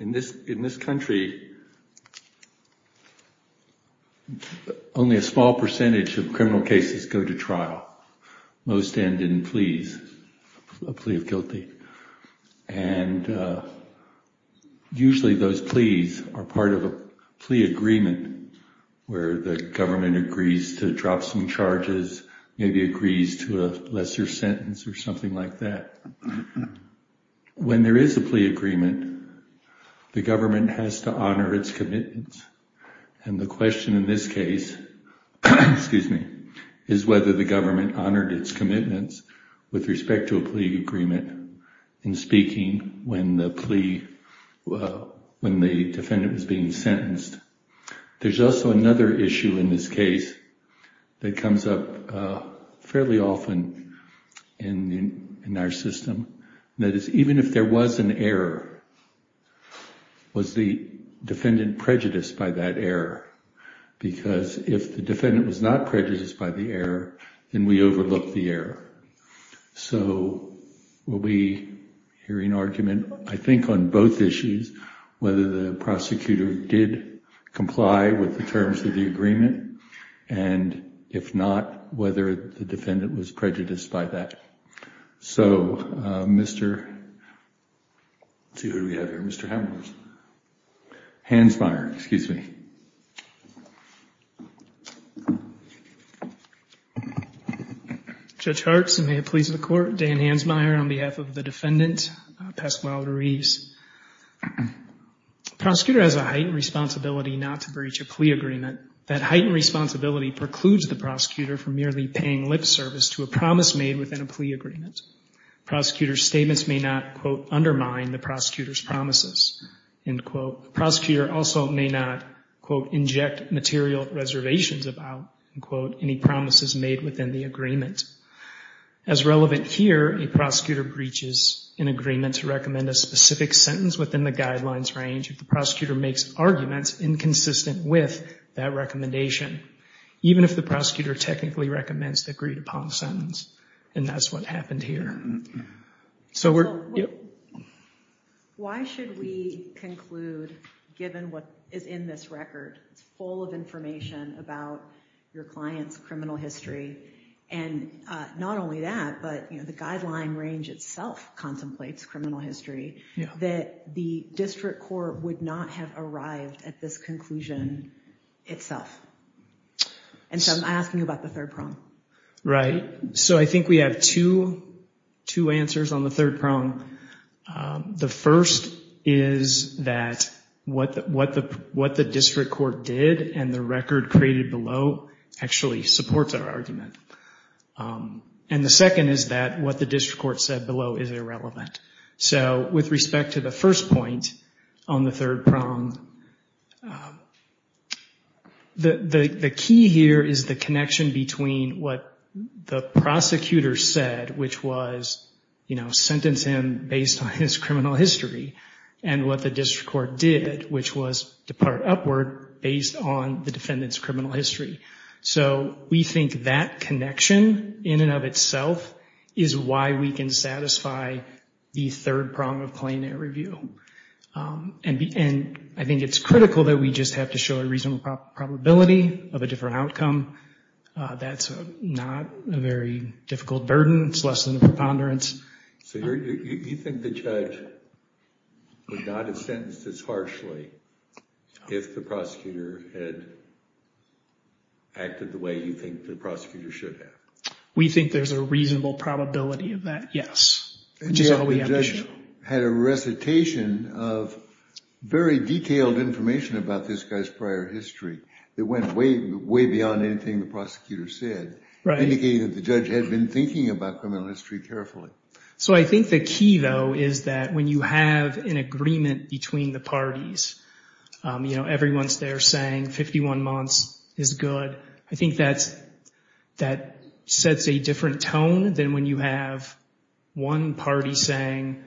In this country, only a small percentage of criminal cases go to trial, and that's a huge most end in pleas, a plea of guilty. And usually those pleas are part of a plea agreement where the government agrees to drop some charges, maybe agrees to a lesser sentence or something like that. When there is a plea agreement, the government has to honor its commitments, and the question in this case is whether the government honored its commitments with respect to a plea agreement in speaking when the defendant was being sentenced. There's also another issue in this case that comes up fairly often in our system, and that is even if there was an error, was the defendant prejudiced by that error? Because if the defendant was not prejudiced by the error, then we overlook the error. So will we hear an argument, I think, on both issues, whether the prosecutor did comply with the terms of the agreement, and if not, whether the defendant was prejudiced by that. So Mr. Ruiz, if you would like to answer that. Let's see who we have here. Mr. Hansmeier, excuse me. Judge Hartz, and may it please the Court, Dan Hansmeier on behalf of the defendant, Pasquale Ruiz. Prosecutor has a heightened responsibility not to breach a plea agreement. That heightened responsibility precludes the prosecutor from merely paying lip service to a promise made within a plea agreement. Prosecutor's statements may not, quote, undermine the prosecutor's promises, end quote. Prosecutor also may not, quote, inject material reservations about, end quote, any promises made within the agreement. As relevant here, a prosecutor breaches an agreement to recommend a specific sentence within the guidelines range if the prosecutor makes arguments inconsistent with that recommendation, even if the prosecutor technically recommends the agreed upon sentence, and that's what happened here. Why should we conclude, given what is in this record, it's full of information about your client's criminal history, and not only that, but the guideline range itself contemplates criminal history, that the district court would not have arrived at this conclusion itself? And so I'm asking you about the third prong. Right. So I think we have two answers on the third prong. The first is that what the district court did and the record created below actually supports our argument. And the second is that what the district court said below is irrelevant. So with respect to the first point on the third prong, the key here is the connection between what the prosecutor said, which was, you know, sentence him based on his criminal history, and what the district court did, which was depart upward based on the defendant's criminal history. So we think that connection in and of itself is why we can satisfy the third prong of plain air review. And I think it's critical that we just have to show a reasonable probability of a different outcome. That's not a very difficult burden. It's less than a preponderance. So you think the judge would not have sentenced as harshly if the prosecutor had acted the way you think the prosecutor should have? We think there's a reasonable probability of that, yes. And the judge had a recitation of very detailed information about this guy's prior history that went way, way beyond anything the prosecutor said, indicating that the judge had been thinking about criminal history carefully. So I think the key, though, is that when you have an agreement between the parties, you know, everyone's there saying 51 months is good. I think that sets a different tone than when you have one party saying,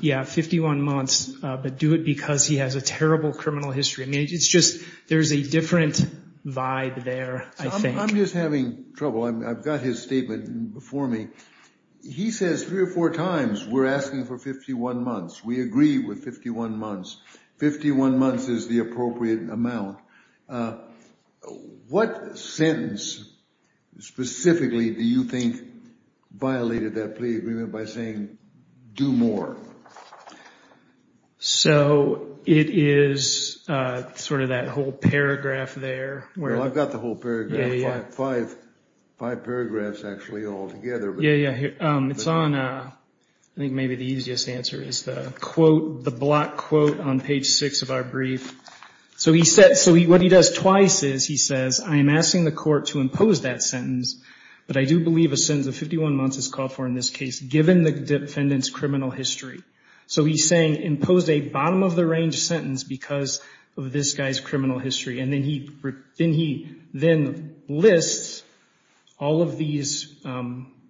yeah, 51 months, but do it because he has a terrible criminal history. I mean, it's just, there's a different vibe there, I think. I'm just having trouble. I've got his statement before me. He says three or four times, we're asking for 51 months. We agree with 51 months. 51 months is the appropriate amount. What sentence specifically do you think violated that plea agreement by saying, do more? So, it is sort of that whole paragraph there. Well, I've got the whole paragraph, five paragraphs actually all together. Yeah, yeah. It's on, I think maybe the easiest answer is the quote, the block quote on page six of our brief. So he said, so what he does twice is he says, I'm asking the court to impose that sentence, but I do believe a sentence of 51 months is called for in this case, given the defendant's criminal history. So he's saying, impose a bottom of the range sentence because of this guy's criminal history. And then he then lists all of these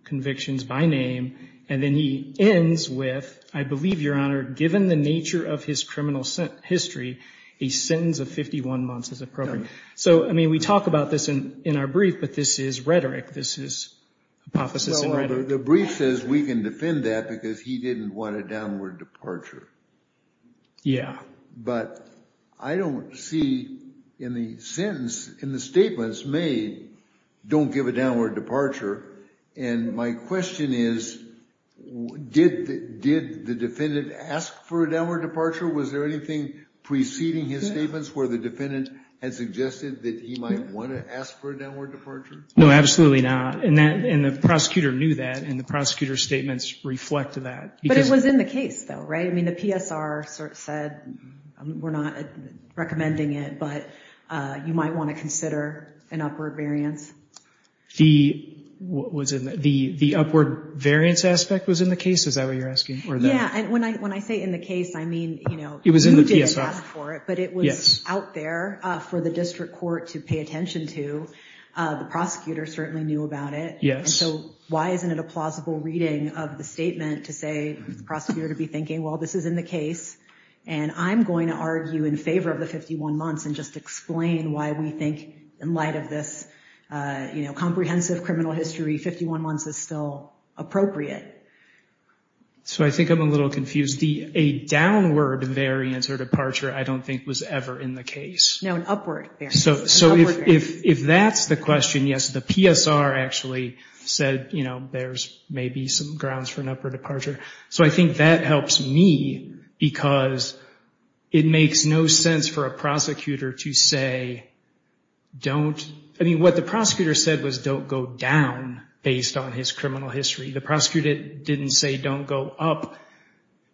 convictions by name, and then he ends with, I believe, Your Honor, given the nature of his criminal history, a sentence of 51 months is appropriate. So, I mean, we talk about this in our brief, but this is rhetoric. This is hypothesis and rhetoric. The brief says we can defend that because he didn't want a downward departure. Yeah. But I don't see in the sentence, in the statements made, don't give a downward departure. And my question is, did the defendant ask for a downward departure? Was there anything preceding his statements where the defendant had suggested that he might want to ask for a downward departure? No, absolutely not. And the prosecutor knew that, and the prosecutor's statements reflect that. But it was in the case, though, right? I mean, the PSR said, we're not recommending it, but you might want to consider an upward variance. The upward variance aspect was in the case? Is that what you're asking? Yeah. And when I say in the case, I mean, you did ask for it, but it was out there for the district court to pay attention to. The prosecutor certainly knew about it. Yes. And so, why isn't it a plausible reading of the statement to say the prosecutor to be thinking, well, this is in the case, and I'm going to argue in favor of the 51 months and just explain why we think in light of this comprehensive criminal history, 51 months is still appropriate. So I think I'm a little confused. A downward variance or departure I don't think was ever in the case. No, an upward variance. So if that's the question, yes, the PSR actually said, you know, there's maybe some grounds for an upward departure. So I think that helps me, because it makes no sense for a prosecutor to say, don't, I mean, what the prosecutor said was don't go down based on his criminal history. The prosecutor didn't say don't go up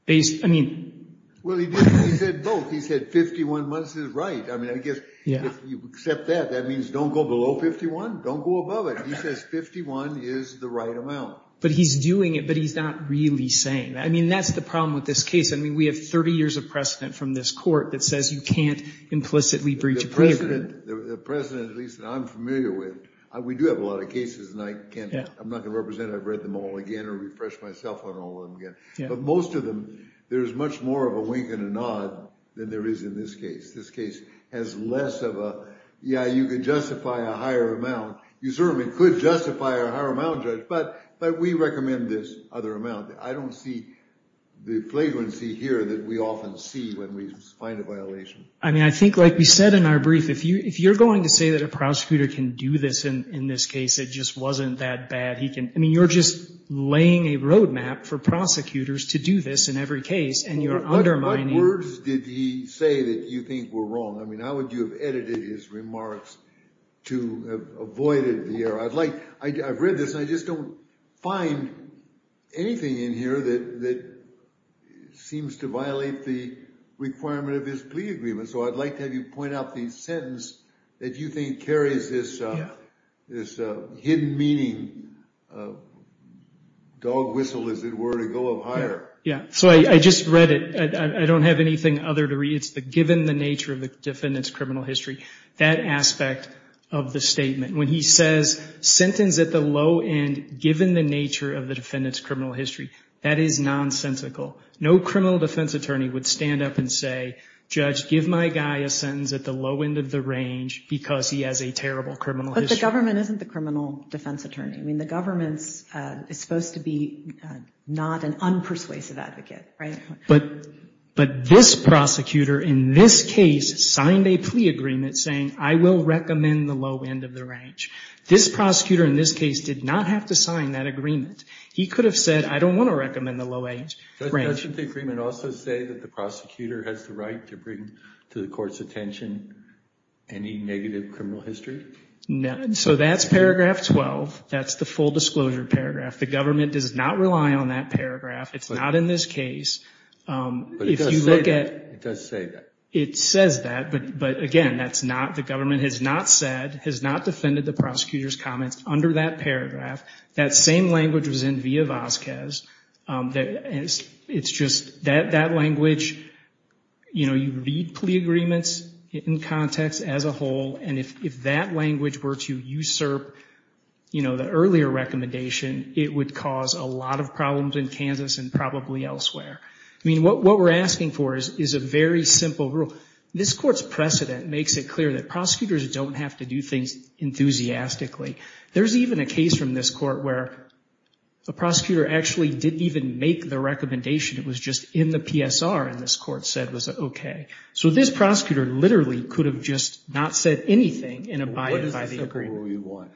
based, I mean. Well, he said both. He said 51 months is right. I mean, I guess if you accept that, that means don't go below 51. Don't go above it. He says 51 is the right amount. But he's doing it, but he's not really saying that. I mean, that's the problem with this case. I mean, we have 30 years of precedent from this court that says you can't implicitly breach a pre-agreement. The precedent, at least that I'm familiar with, we do have a lot of cases, and I'm not going to represent, I've read them all again or refresh myself on all of them again. But most of them, there's much more of a wink and a nod than there is in this case. This case has less of a, yeah, you could justify a higher amount. You certainly could justify a higher amount, Judge, but we recommend this other amount. I don't see the flagrancy here that we often see when we find a violation. I mean, I think like we said in our brief, if you're going to say that a prosecutor can do this in this case, it just wasn't that bad. I mean, you're just laying a roadmap for prosecutors to do this in every case, and you're undermining- What words did he say that you think were wrong? I mean, how would you have edited his remarks to avoid the error? I've read this, and I just don't find anything in here that seems to violate the requirement of this plea agreement. So I'd like to have you point out the sentence that you think carries this hidden meaning, dog whistle is the best way to go because it were to go up higher. Yeah, so I just read it. I don't have anything other to read. It's the given the nature of the defendant's criminal history, that aspect of the statement. When he says, sentence at the low end given the nature of the defendant's criminal history, that is nonsensical. No criminal defense attorney would stand up and say, Judge, give my guy a sentence at the low end of the range because he has a terrible criminal history. But the government isn't the criminal defense attorney. I mean, the government is supposed to be not an unpersuasive advocate, right? But this prosecutor in this case signed a plea agreement saying, I will recommend the low end of the range. This prosecutor in this case did not have to sign that agreement. He could have said, I don't want to recommend the low end range. Doesn't the agreement also say that the prosecutor has the right to bring to the court's attention any negative criminal history? So that's paragraph 12. That's the full disclosure paragraph. The government does not rely on that paragraph. It's not in this case. But it does say that. It says that, but again, that's not, the government has not said, has not defended the prosecutor's comments under that paragraph. That same language was in Villa-Vazquez. It's just that language, you know, you read plea agreements in context as a whole. And if that language were to usurp, you know, the earlier recommendation, it would cause a lot of problems in Kansas and probably elsewhere. I mean, what we're asking for is a very simple rule. This court's precedent makes it clear that prosecutors don't have to do things enthusiastically. There's even a case from this court where the prosecutor actually didn't even make the recommendation. It was just in the PSR, and this court said it was okay. So this prosecutor literally could have just not said anything in abide by the agreement. What is the simple rule you want?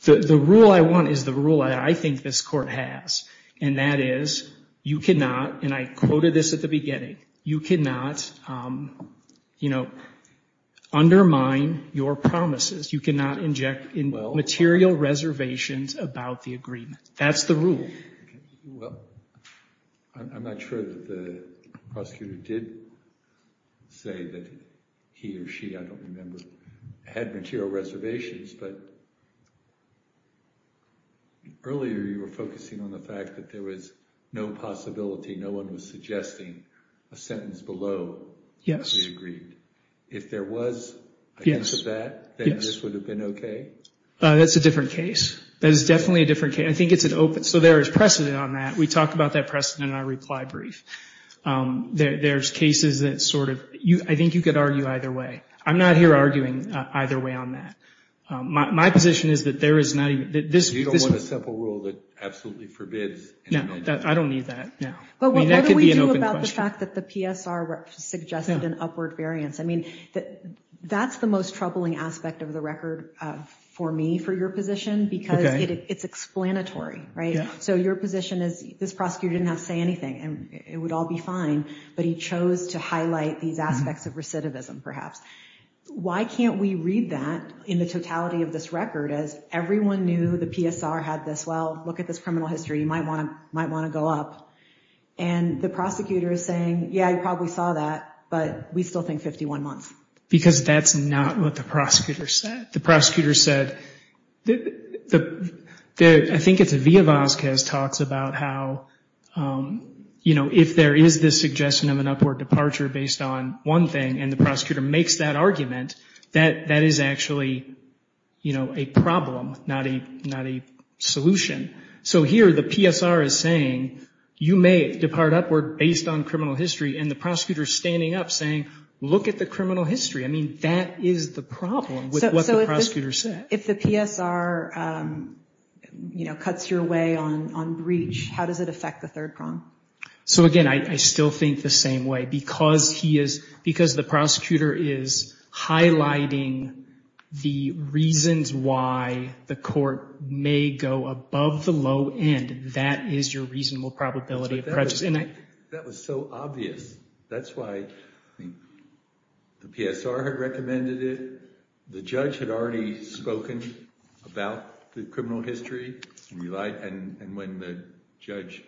The rule I want is the rule I think this court has, and that is, you cannot, and I quoted this at the beginning, you cannot, you know, undermine your promises. You cannot inject material reservations about the agreement. That's the rule. Well, I'm not sure that the prosecutor did say that he or she, I don't remember, had material reservations, but earlier you were focusing on the fact that there was no possibility, no one was suggesting a sentence below the agreement. If there was a hint of that, then this would have been okay? That's a different case. That is definitely a different case. So there is precedent on that. We talked about that precedent in our reply brief. There's cases that sort of, I think you could argue either way. I'm not here arguing either way on that. My position is that there is not even, that this... You don't want a simple rule that absolutely forbids... No, I don't need that. But what do we do about the fact that the PSR suggested an upward variance? I mean, that's the most troubling aspect of the record for me, for your position, because it's explanatory, right? So your position is this prosecutor didn't have to say anything and it would all be fine, but he chose to highlight these aspects of recidivism, perhaps. Why can't we read that in the totality of this record as everyone knew the PSR had this, well, look at this criminal history, you might want to go up. And the prosecutor is saying, yeah, you probably saw that, but we still think 51 months. Because that's not what the prosecutor said. The prosecutor said, I think it's a Via Vazquez talks about how, you know, if there is this suggestion of an upward departure based on one thing, and the prosecutor makes that argument, that is actually, you know, a problem, not a solution. So here, the PSR is saying, you may depart upward based on criminal history, and the prosecutor is standing up saying, look at the criminal history. I mean, that is the problem. So if the PSR, you know, cuts your way on breach, how does it affect the third prong? So again, I still think the same way, because he is, because the prosecutor is highlighting the reasons why the court may go above the low end, that is your reasonable probability of prejudice. That was so obvious. That's why the PSR had recommended it. The judge had already spoken about the criminal history, and when the judge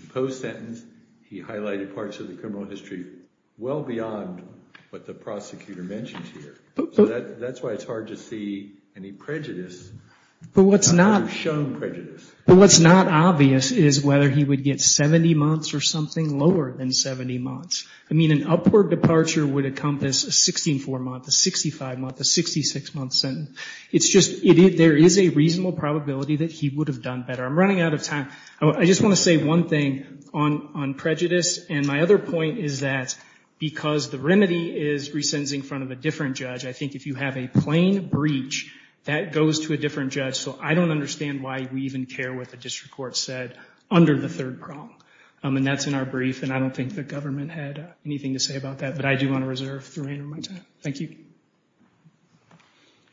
imposed sentence, he highlighted parts of the criminal history well beyond what the prosecutor mentioned here. So that's why it's hard to see any prejudice. But what's not. Or shown prejudice. But what's not obvious is whether he would get 70 months or something lower than 70 months. I mean, an upward departure would encompass a 16-4 month, a 65 month, a 66 month sentence. It's just, there is a reasonable probability that he would have done better. I'm running out of time. I just want to say one thing on prejudice, and my other point is that, because the remedy is resentencing in front of a different judge, I think if you have a plain breach, that goes to a different judge. So I don't understand why we even care what the district court said under the third prong. And that's in our brief. And I don't think the government had anything to say about that. But I do want to reserve the remainder of my time. Thank you.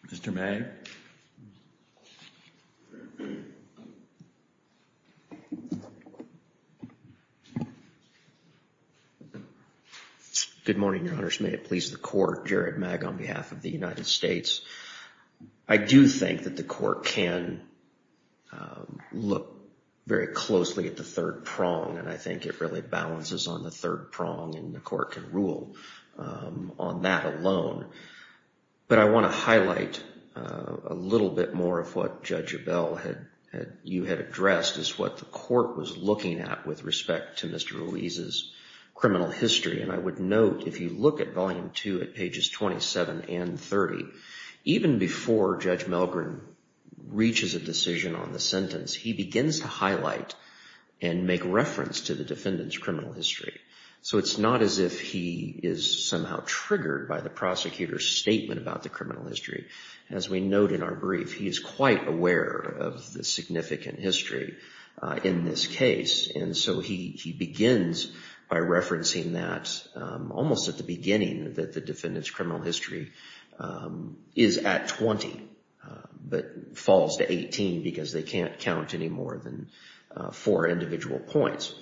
Mr. Mag. Good morning, your honors. May it please the court. Jared Mag on behalf of the United States. I do think that the court can look very closely at the third prong. And I think it really balances on the third prong. And the court can rule on that alone. But I want to highlight a little bit more of what Judge Abell, you had addressed, is what the court was looking at with respect to Mr. Ruiz's criminal history. And I would note, if you look at volume two at pages 27 and 30, even before Judge Milgren reaches a decision on the sentence, he begins to highlight and make reference to the defendant's criminal history. So it's not as if he is somehow triggered by the prosecutor's statement about the criminal history. As we note in our brief, he is quite aware of the significant history in this case. And so he begins by referencing that almost at the beginning, that the defendant's criminal history is at 20 but falls to 18 because they can't count any more than four individual points.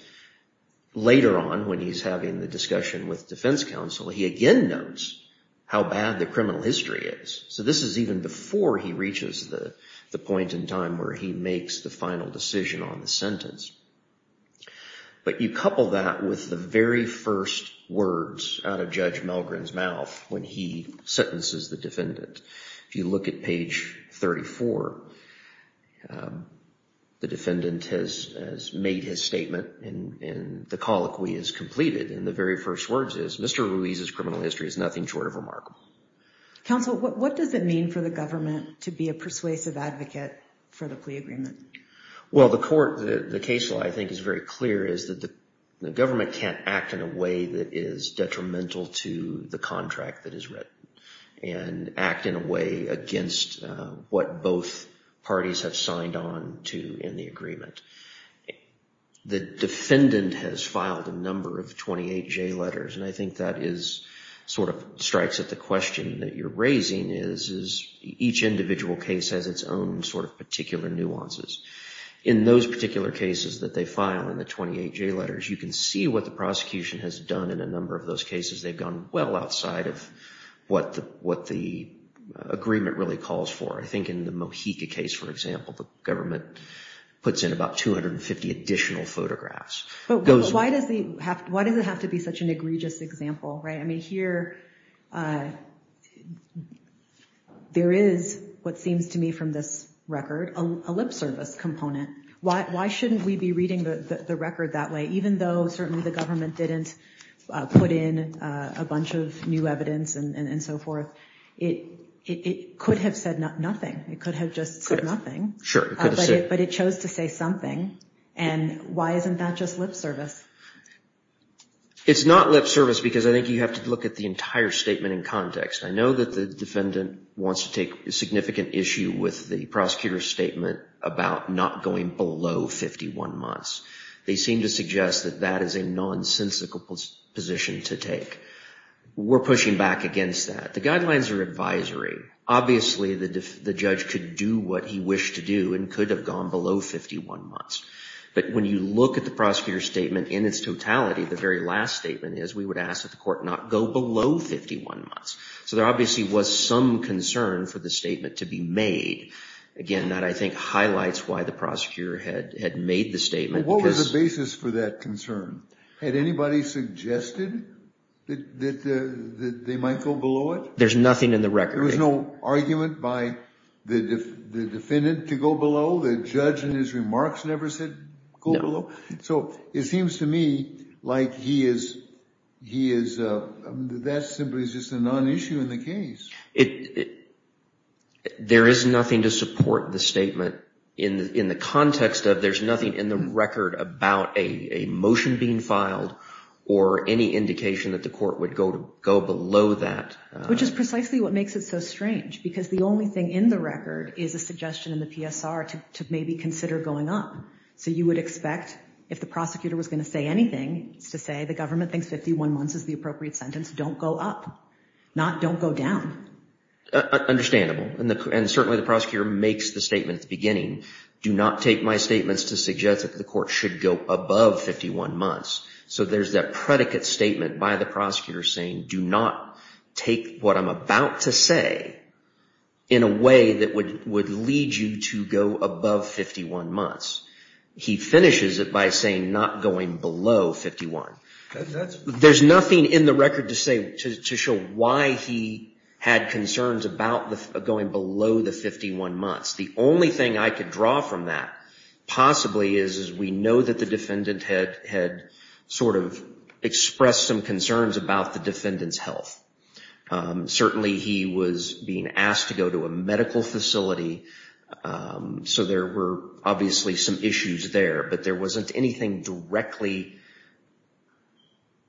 Later on, when he's having the discussion with defense counsel, he again notes how bad the criminal history is. So this is even before he reaches the point in time where he makes the final decision on the sentence. But you couple that with the very first words out of Judge Milgren's mouth when he sentences the defendant. If you look at page 34, the defendant has made his statement and the colloquy is completed. And the very first words is, Mr. Ruiz's criminal history is nothing short of remarkable. Counsel, what does it mean for the government to be a persuasive advocate for the plea agreement? Well, the court, the case law I think is very clear is that the government can't act in a way that is detrimental to the contract that is written and act in a way against what both parties have signed on to in the agreement. The defendant has filed a number of 28 J letters and I think that is sort of strikes at the question that you're raising is each individual case has its own sort of particular nuances. In those particular cases that they file in the 28 J letters, you can see what the prosecution has done in a number of those cases. They've gone well outside of what the agreement really calls for. I think in the Mojica case, for example, the government puts in about 250 additional photographs. Why does it have to be such an egregious example, right? Here, there is what seems to me from this record, a lip service component. Why shouldn't we be reading the record that way? Even though certainly the government didn't put in a bunch of new evidence and so forth, it could have said nothing. It could have just said nothing, but it chose to say something. Why isn't that just lip service? It's not lip service because I think you have to look at the entire statement in context. I know that the defendant wants to take a significant issue with the prosecutor's statement about not going below 51 months. They seem to suggest that that is a nonsensical position to take. We're pushing back against that. The guidelines are advisory. Obviously, the judge could do what he wished to do and could have gone below 51 months. But when you look at the prosecutor's statement in its totality, the very last statement is we would ask that the court not go below 51 months. So there obviously was some concern for the statement to be made. Again, that I think highlights why the prosecutor had made the statement. What was the basis for that concern? Had anybody suggested that they might go below it? There's nothing in the record. There was no argument by the defendant to go below? The judge in his remarks never said go below? So it seems to me like that simply is just a non-issue in the case. There is nothing to support the statement in the context of there's nothing in the record about a motion being filed or any indication that the court would go below that. Which is precisely what makes it so strange because the only thing in the record is a suggestion in the PSR to maybe consider going up. So you would expect if the prosecutor was going to say anything, it's to say the government thinks 51 months is the appropriate sentence. Don't go up. Not don't go down. Understandable. And certainly, the prosecutor makes the statement at the beginning. Do not take my statements to suggest that the court should go above 51 months. So there's that predicate statement by the prosecutor saying, do not take what I'm about to say in a way that would lead you to go above 51 months. He finishes it by saying not going below 51. There's nothing in the record to show why he had concerns about going below the 51 months. The only thing I could draw from that possibly is we know that the defendant had sort of expressed some concerns about the defendant's health. Certainly, he was being asked to go to a medical facility. So there were obviously some issues there, but there wasn't anything directly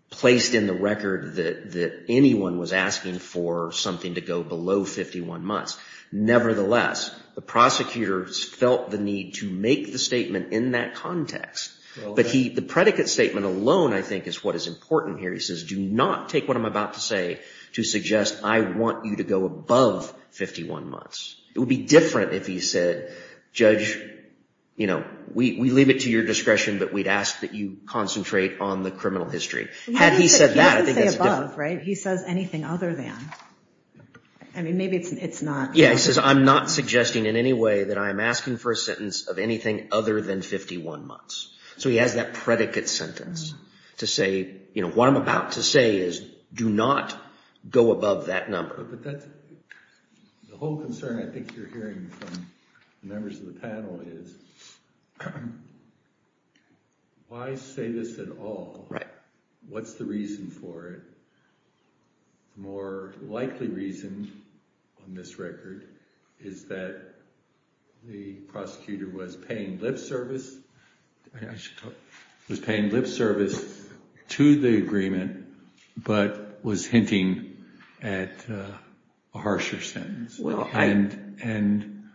placed in the record that anyone was asking for something to go below 51 months. Nevertheless, the prosecutors felt the need to make the statement in that context. But the predicate statement alone, I think, is what is important here. He says, do not take what I'm about to say to suggest I want you to go above 51 months. It would be different if he said, judge, we leave it to your discretion, but we'd ask that you concentrate on the criminal history. Had he said that, I think that's a different- He doesn't say above, right? He says anything other than. I mean, maybe it's not- Yeah, he says, I'm not suggesting in any way that I'm asking for a sentence of anything other than 51 months. So he has that predicate sentence to say, what I'm about to say is, do not go above that number. But the whole concern I think you're hearing from the members of the panel is, why say this at all? What's the reason for it? The more likely reason on this record is that the prosecutor was paying lip service- I think I should talk- Was paying lip service to the agreement, but was hinting at a harsher sentence. And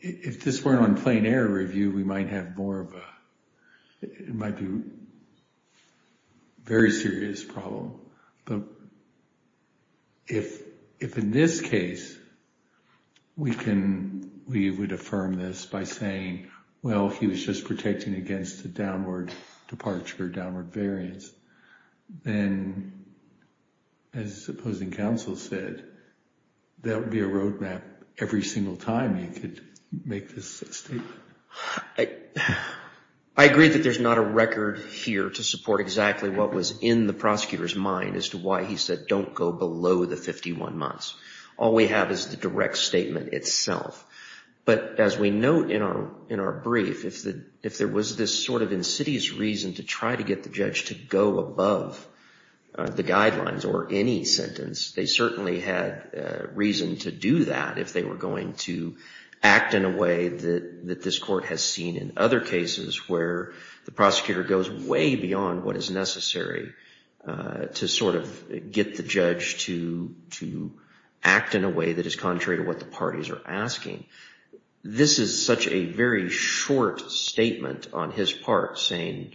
if this weren't on plain air review, we might have more of a- It might be a very serious problem. But if in this case, we can- We would affirm this by saying, well, he was just protecting against a downward departure, downward variance. Then, as opposing counsel said, that would be a roadmap. Every single time you could make this statement. I agree that there's not a record here to support exactly what was in the prosecutor's mind as to why he said, don't go below the 51 months. All we have is the direct statement itself. But as we note in our brief, if there was this sort of insidious reason to try to get the judge to go above the guidelines or any sentence, they certainly had reason to do that if they were going to act in a way that this court has seen in other cases where the prosecutor goes way beyond what is necessary to sort of get the judge to act in a way that is contrary to what the parties are asking. This is such a very short statement on his part saying,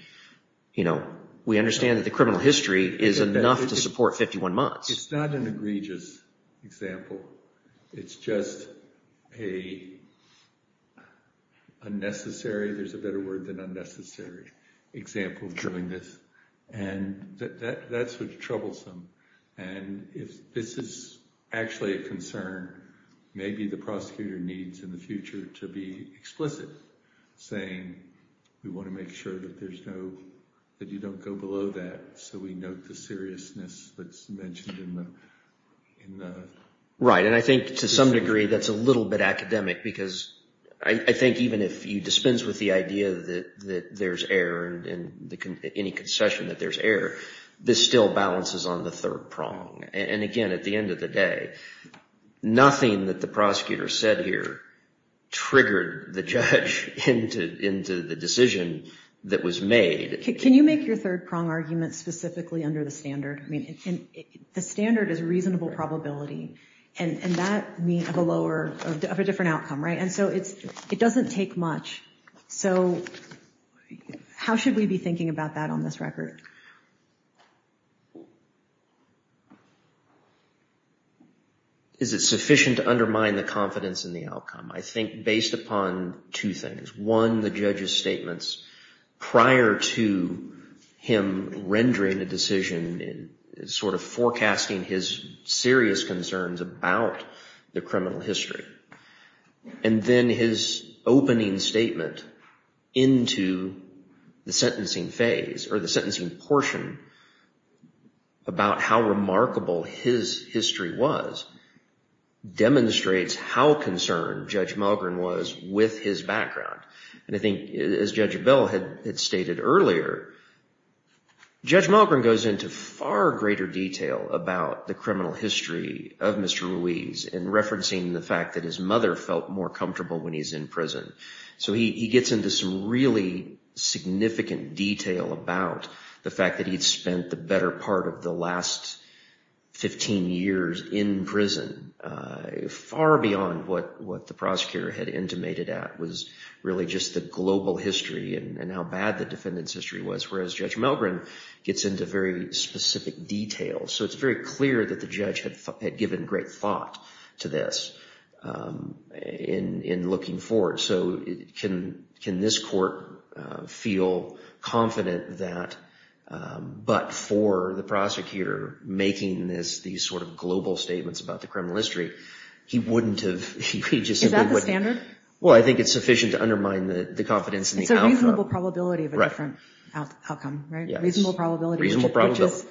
we understand that the criminal history is enough to support 51 months. It's not an egregious example. It's just a unnecessary, there's a better word than unnecessary, example of doing this. And that's what's troublesome. And if this is actually a concern, maybe the prosecutor needs in the future to be explicit saying, we want to make sure that there's no, that you don't go below that. So we note the seriousness that's mentioned in the. Right. And I think to some degree, that's a little bit academic, because I think even if you dispense with the idea that there's error and any concession that there's error, this still balances on the third prong. And again, at the end of the day, nothing that the prosecutor said here triggered the judge into the decision that was made. Can you make your third prong argument specifically under the standard? I mean, the standard is reasonable probability, and that means of a lower, of a different outcome, right? And so it's, it doesn't take much. So how should we be thinking about that on this record? Is it sufficient to undermine the confidence in the outcome? I think based upon two things. One, the judge's statements prior to him rendering a decision and sort of forecasting his serious concerns about the criminal history. And then his opening statement into the sentencing phase or the sentencing portion about how remarkable his history was demonstrates how concerned Judge Mulgren was with his background. And I think as Judge Abell had stated earlier, Judge Mulgren goes into far greater detail about the criminal history of Mr. Ruiz in referencing the fact that his mother felt more comfortable when he's in prison. So he gets into some really significant detail about the fact that he'd spent the better part of the last 15 years in prison. Far beyond what the prosecutor had intimated at was really just the global history and how bad the defendant's history was, whereas Judge Mulgren gets into very specific detail. So it's very clear that the judge had given great thought to this in looking forward. So can this court feel confident that, but for the prosecutor, making these sort of global statements about the criminal history, he wouldn't have, he just simply wouldn't. Is that the standard? Well, I think it's sufficient to undermine the confidence in the outcome. It's a reasonable probability of a different outcome, right? Reasonable probability. Reasonable probability.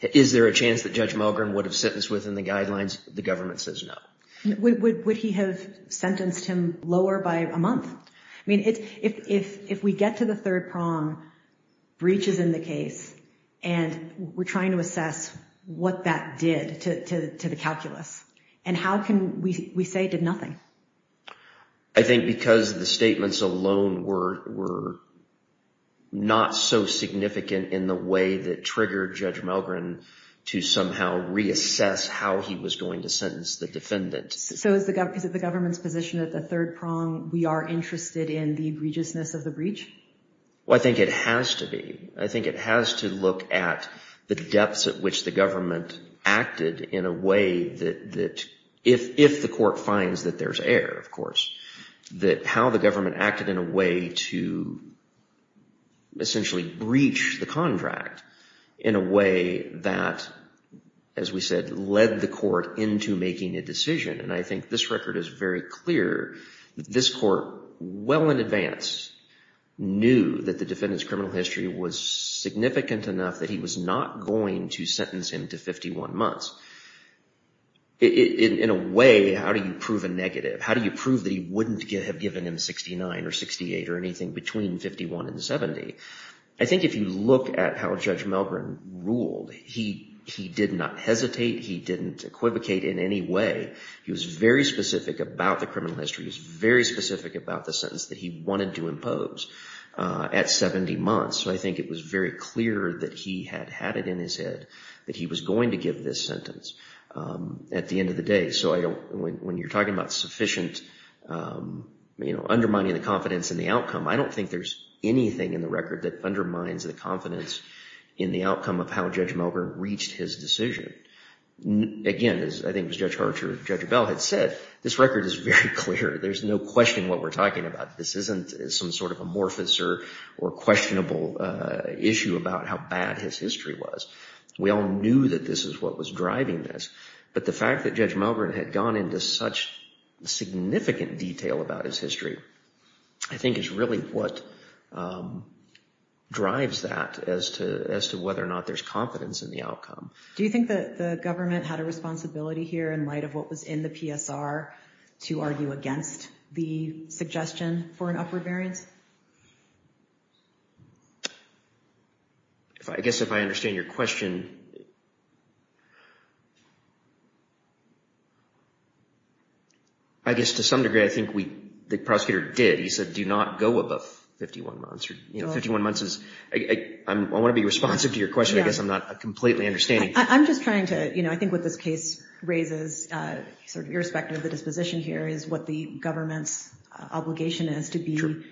Is there a chance that Judge Mulgren would have sentenced within the guidelines? The government says no. Would he have sentenced him lower by a month? I mean, if we get to the third prong, breach is in the case, and we're trying to assess what that did to the calculus, and how can we say it did nothing? I think because the statements alone were not so significant in the way that triggered Judge Mulgren to somehow reassess how he was going to sentence the defendant. So is it the government's position that the third prong, we are interested in the egregiousness of the breach? Well, I think it has to be. I think it has to look at the depths at which the government acted in a way that, if the court finds that there's error, of course, that how the government acted in a way to essentially breach the contract in a way that, as we said, led the court into making a decision. And I think this record is very clear. This court, well in advance, knew that the defendant's criminal history was significant enough that he was not going to sentence him to 51 months. In a way, how do you prove a negative? How do you prove that he wouldn't have given him 69 or 68 or anything between 51 and 70? I think if you look at how Judge Mulgren ruled, he did not hesitate. He didn't equivocate in any way. He was very specific about the criminal history. He was very specific about the sentence that he wanted to impose at 70 months. So I think it was very clear that he had had it in his head that he was going to give this sentence at the end of the day. So when you're talking about sufficient, you know, undermining the confidence in the outcome, I don't think there's anything in the record that undermines the confidence in the outcome of how Judge Mulgren reached his decision. Again, as I think Judge Archer, Judge Bell had said, this record is very clear. There's no question what we're talking about. This isn't some sort of amorphous or questionable issue about how bad his history was. We all knew that this is what was driving this. But the fact that Judge Mulgren had gone into such significant detail about his history, I think is really what drives that as to whether or not there's confidence in the outcome. Do you think that the government had a responsibility here in light of what was in the PSR to argue against the suggestion for an upward variance? I guess if I understand your question, I guess to some degree, I think the prosecutor did. He said, do not go above 51 months. I want to be responsive to your question. I guess I'm not completely understanding. I'm just trying to, I think what this case raises, irrespective of the disposition here, is what the government's obligation is to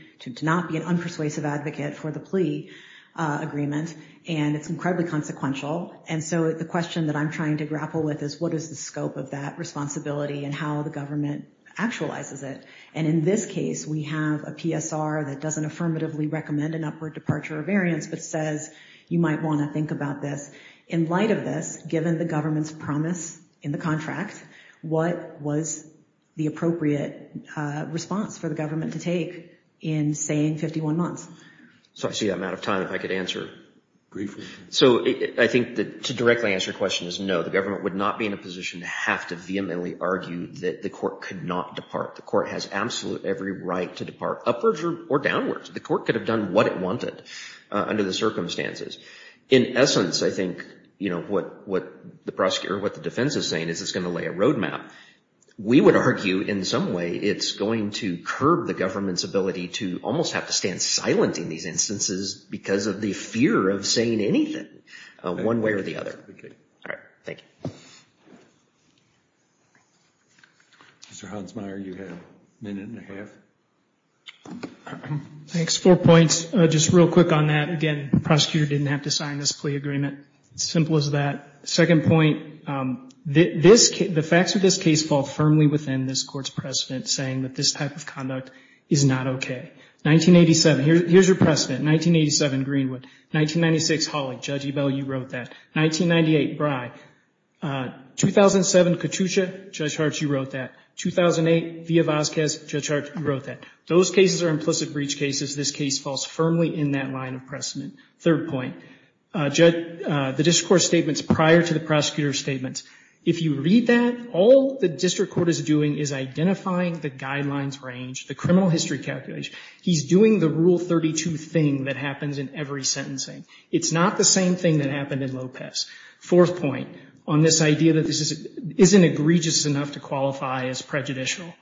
not be an unpersuasive advocate for the plea agreement. And it's incredibly consequential. And so the question that I'm trying to grapple with is, what is the scope of that responsibility and how the government actualizes it? And in this case, we have a PSR that doesn't affirmatively recommend an upward departure of variance, but says, you might want to think about this. In light of this, given the government's promise in the contract, what was the appropriate response for the government to take in, say, 51 months? So I see I'm out of time. If I could answer briefly. So I think to directly answer your question is, no, the government would not be in a position to have to vehemently argue that the court could not depart. The court has absolute every right to depart upwards or downwards. The court could have done what it wanted under the circumstances. In essence, I think what the prosecutor or what the defense is saying is it's going to lay a roadmap. We would argue, in some way, it's going to curb the government's ability to almost have to stand silent in these instances because of the fear of saying anything, one way or the other. All right. Thank you. Mr. Hansmeier, you have a minute and a half. All right. Thanks. Four points. Just real quick on that. Again, the prosecutor didn't have to sign this plea agreement. It's as simple as that. Second point, the facts of this case fall firmly within this court's precedent saying that this type of conduct is not okay. 1987, here's your precedent. 1987, Greenwood. 1996, Hawley. Judge Ebell, you wrote that. 1998, Brey. 2007, Katusha. Judge Hart, you wrote that. 2008, Villa-Vazquez. Judge Hart, you wrote that. Those cases are implicit breach cases. This case falls firmly in that line of precedent. Third point, the district court's statements prior to the prosecutor's statements. If you read that, all the district court is doing is identifying the guidelines range, the criminal history calculation. He's doing the Rule 32 thing that happens in every sentencing. It's not the same thing that happened in Lopez. Fourth point, on this idea that this isn't egregious enough to qualify as prejudicial.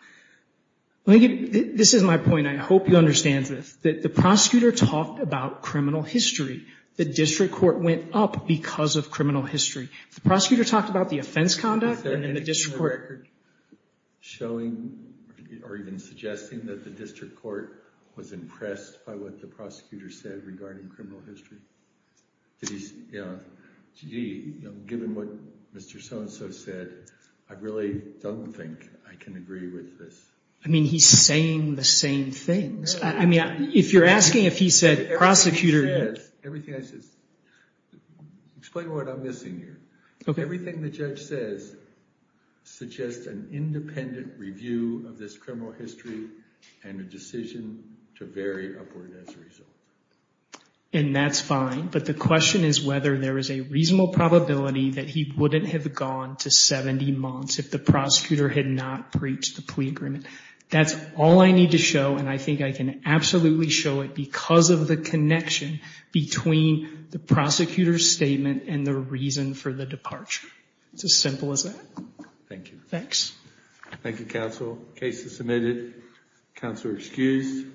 This is my point. I hope you understand this. The prosecutor talked about criminal history. The district court went up because of criminal history. If the prosecutor talked about the offense conduct and the district court— Is there any record showing or even suggesting that the district court was impressed by what the prosecutor said regarding criminal history? Given what Mr. So-and-so said, I really don't think I can agree with this. He's saying the same things. If you're asking if he said prosecutor— Explain what I'm missing here. Everything the judge says suggests an independent review of this criminal history and a decision to vary upward as a result. That's fine, but the question is whether there is a reasonable probability that he wouldn't have gone to 70 months if the prosecutor had not breached the plea agreement. That's all I need to show, and I think I can absolutely show it because of the connection between the prosecutor's statement and the reason for the departure. It's as simple as that. Thank you. Thanks. Thank you, counsel. Case is submitted. Counselor excused.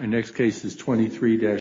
Our next case is 23-20.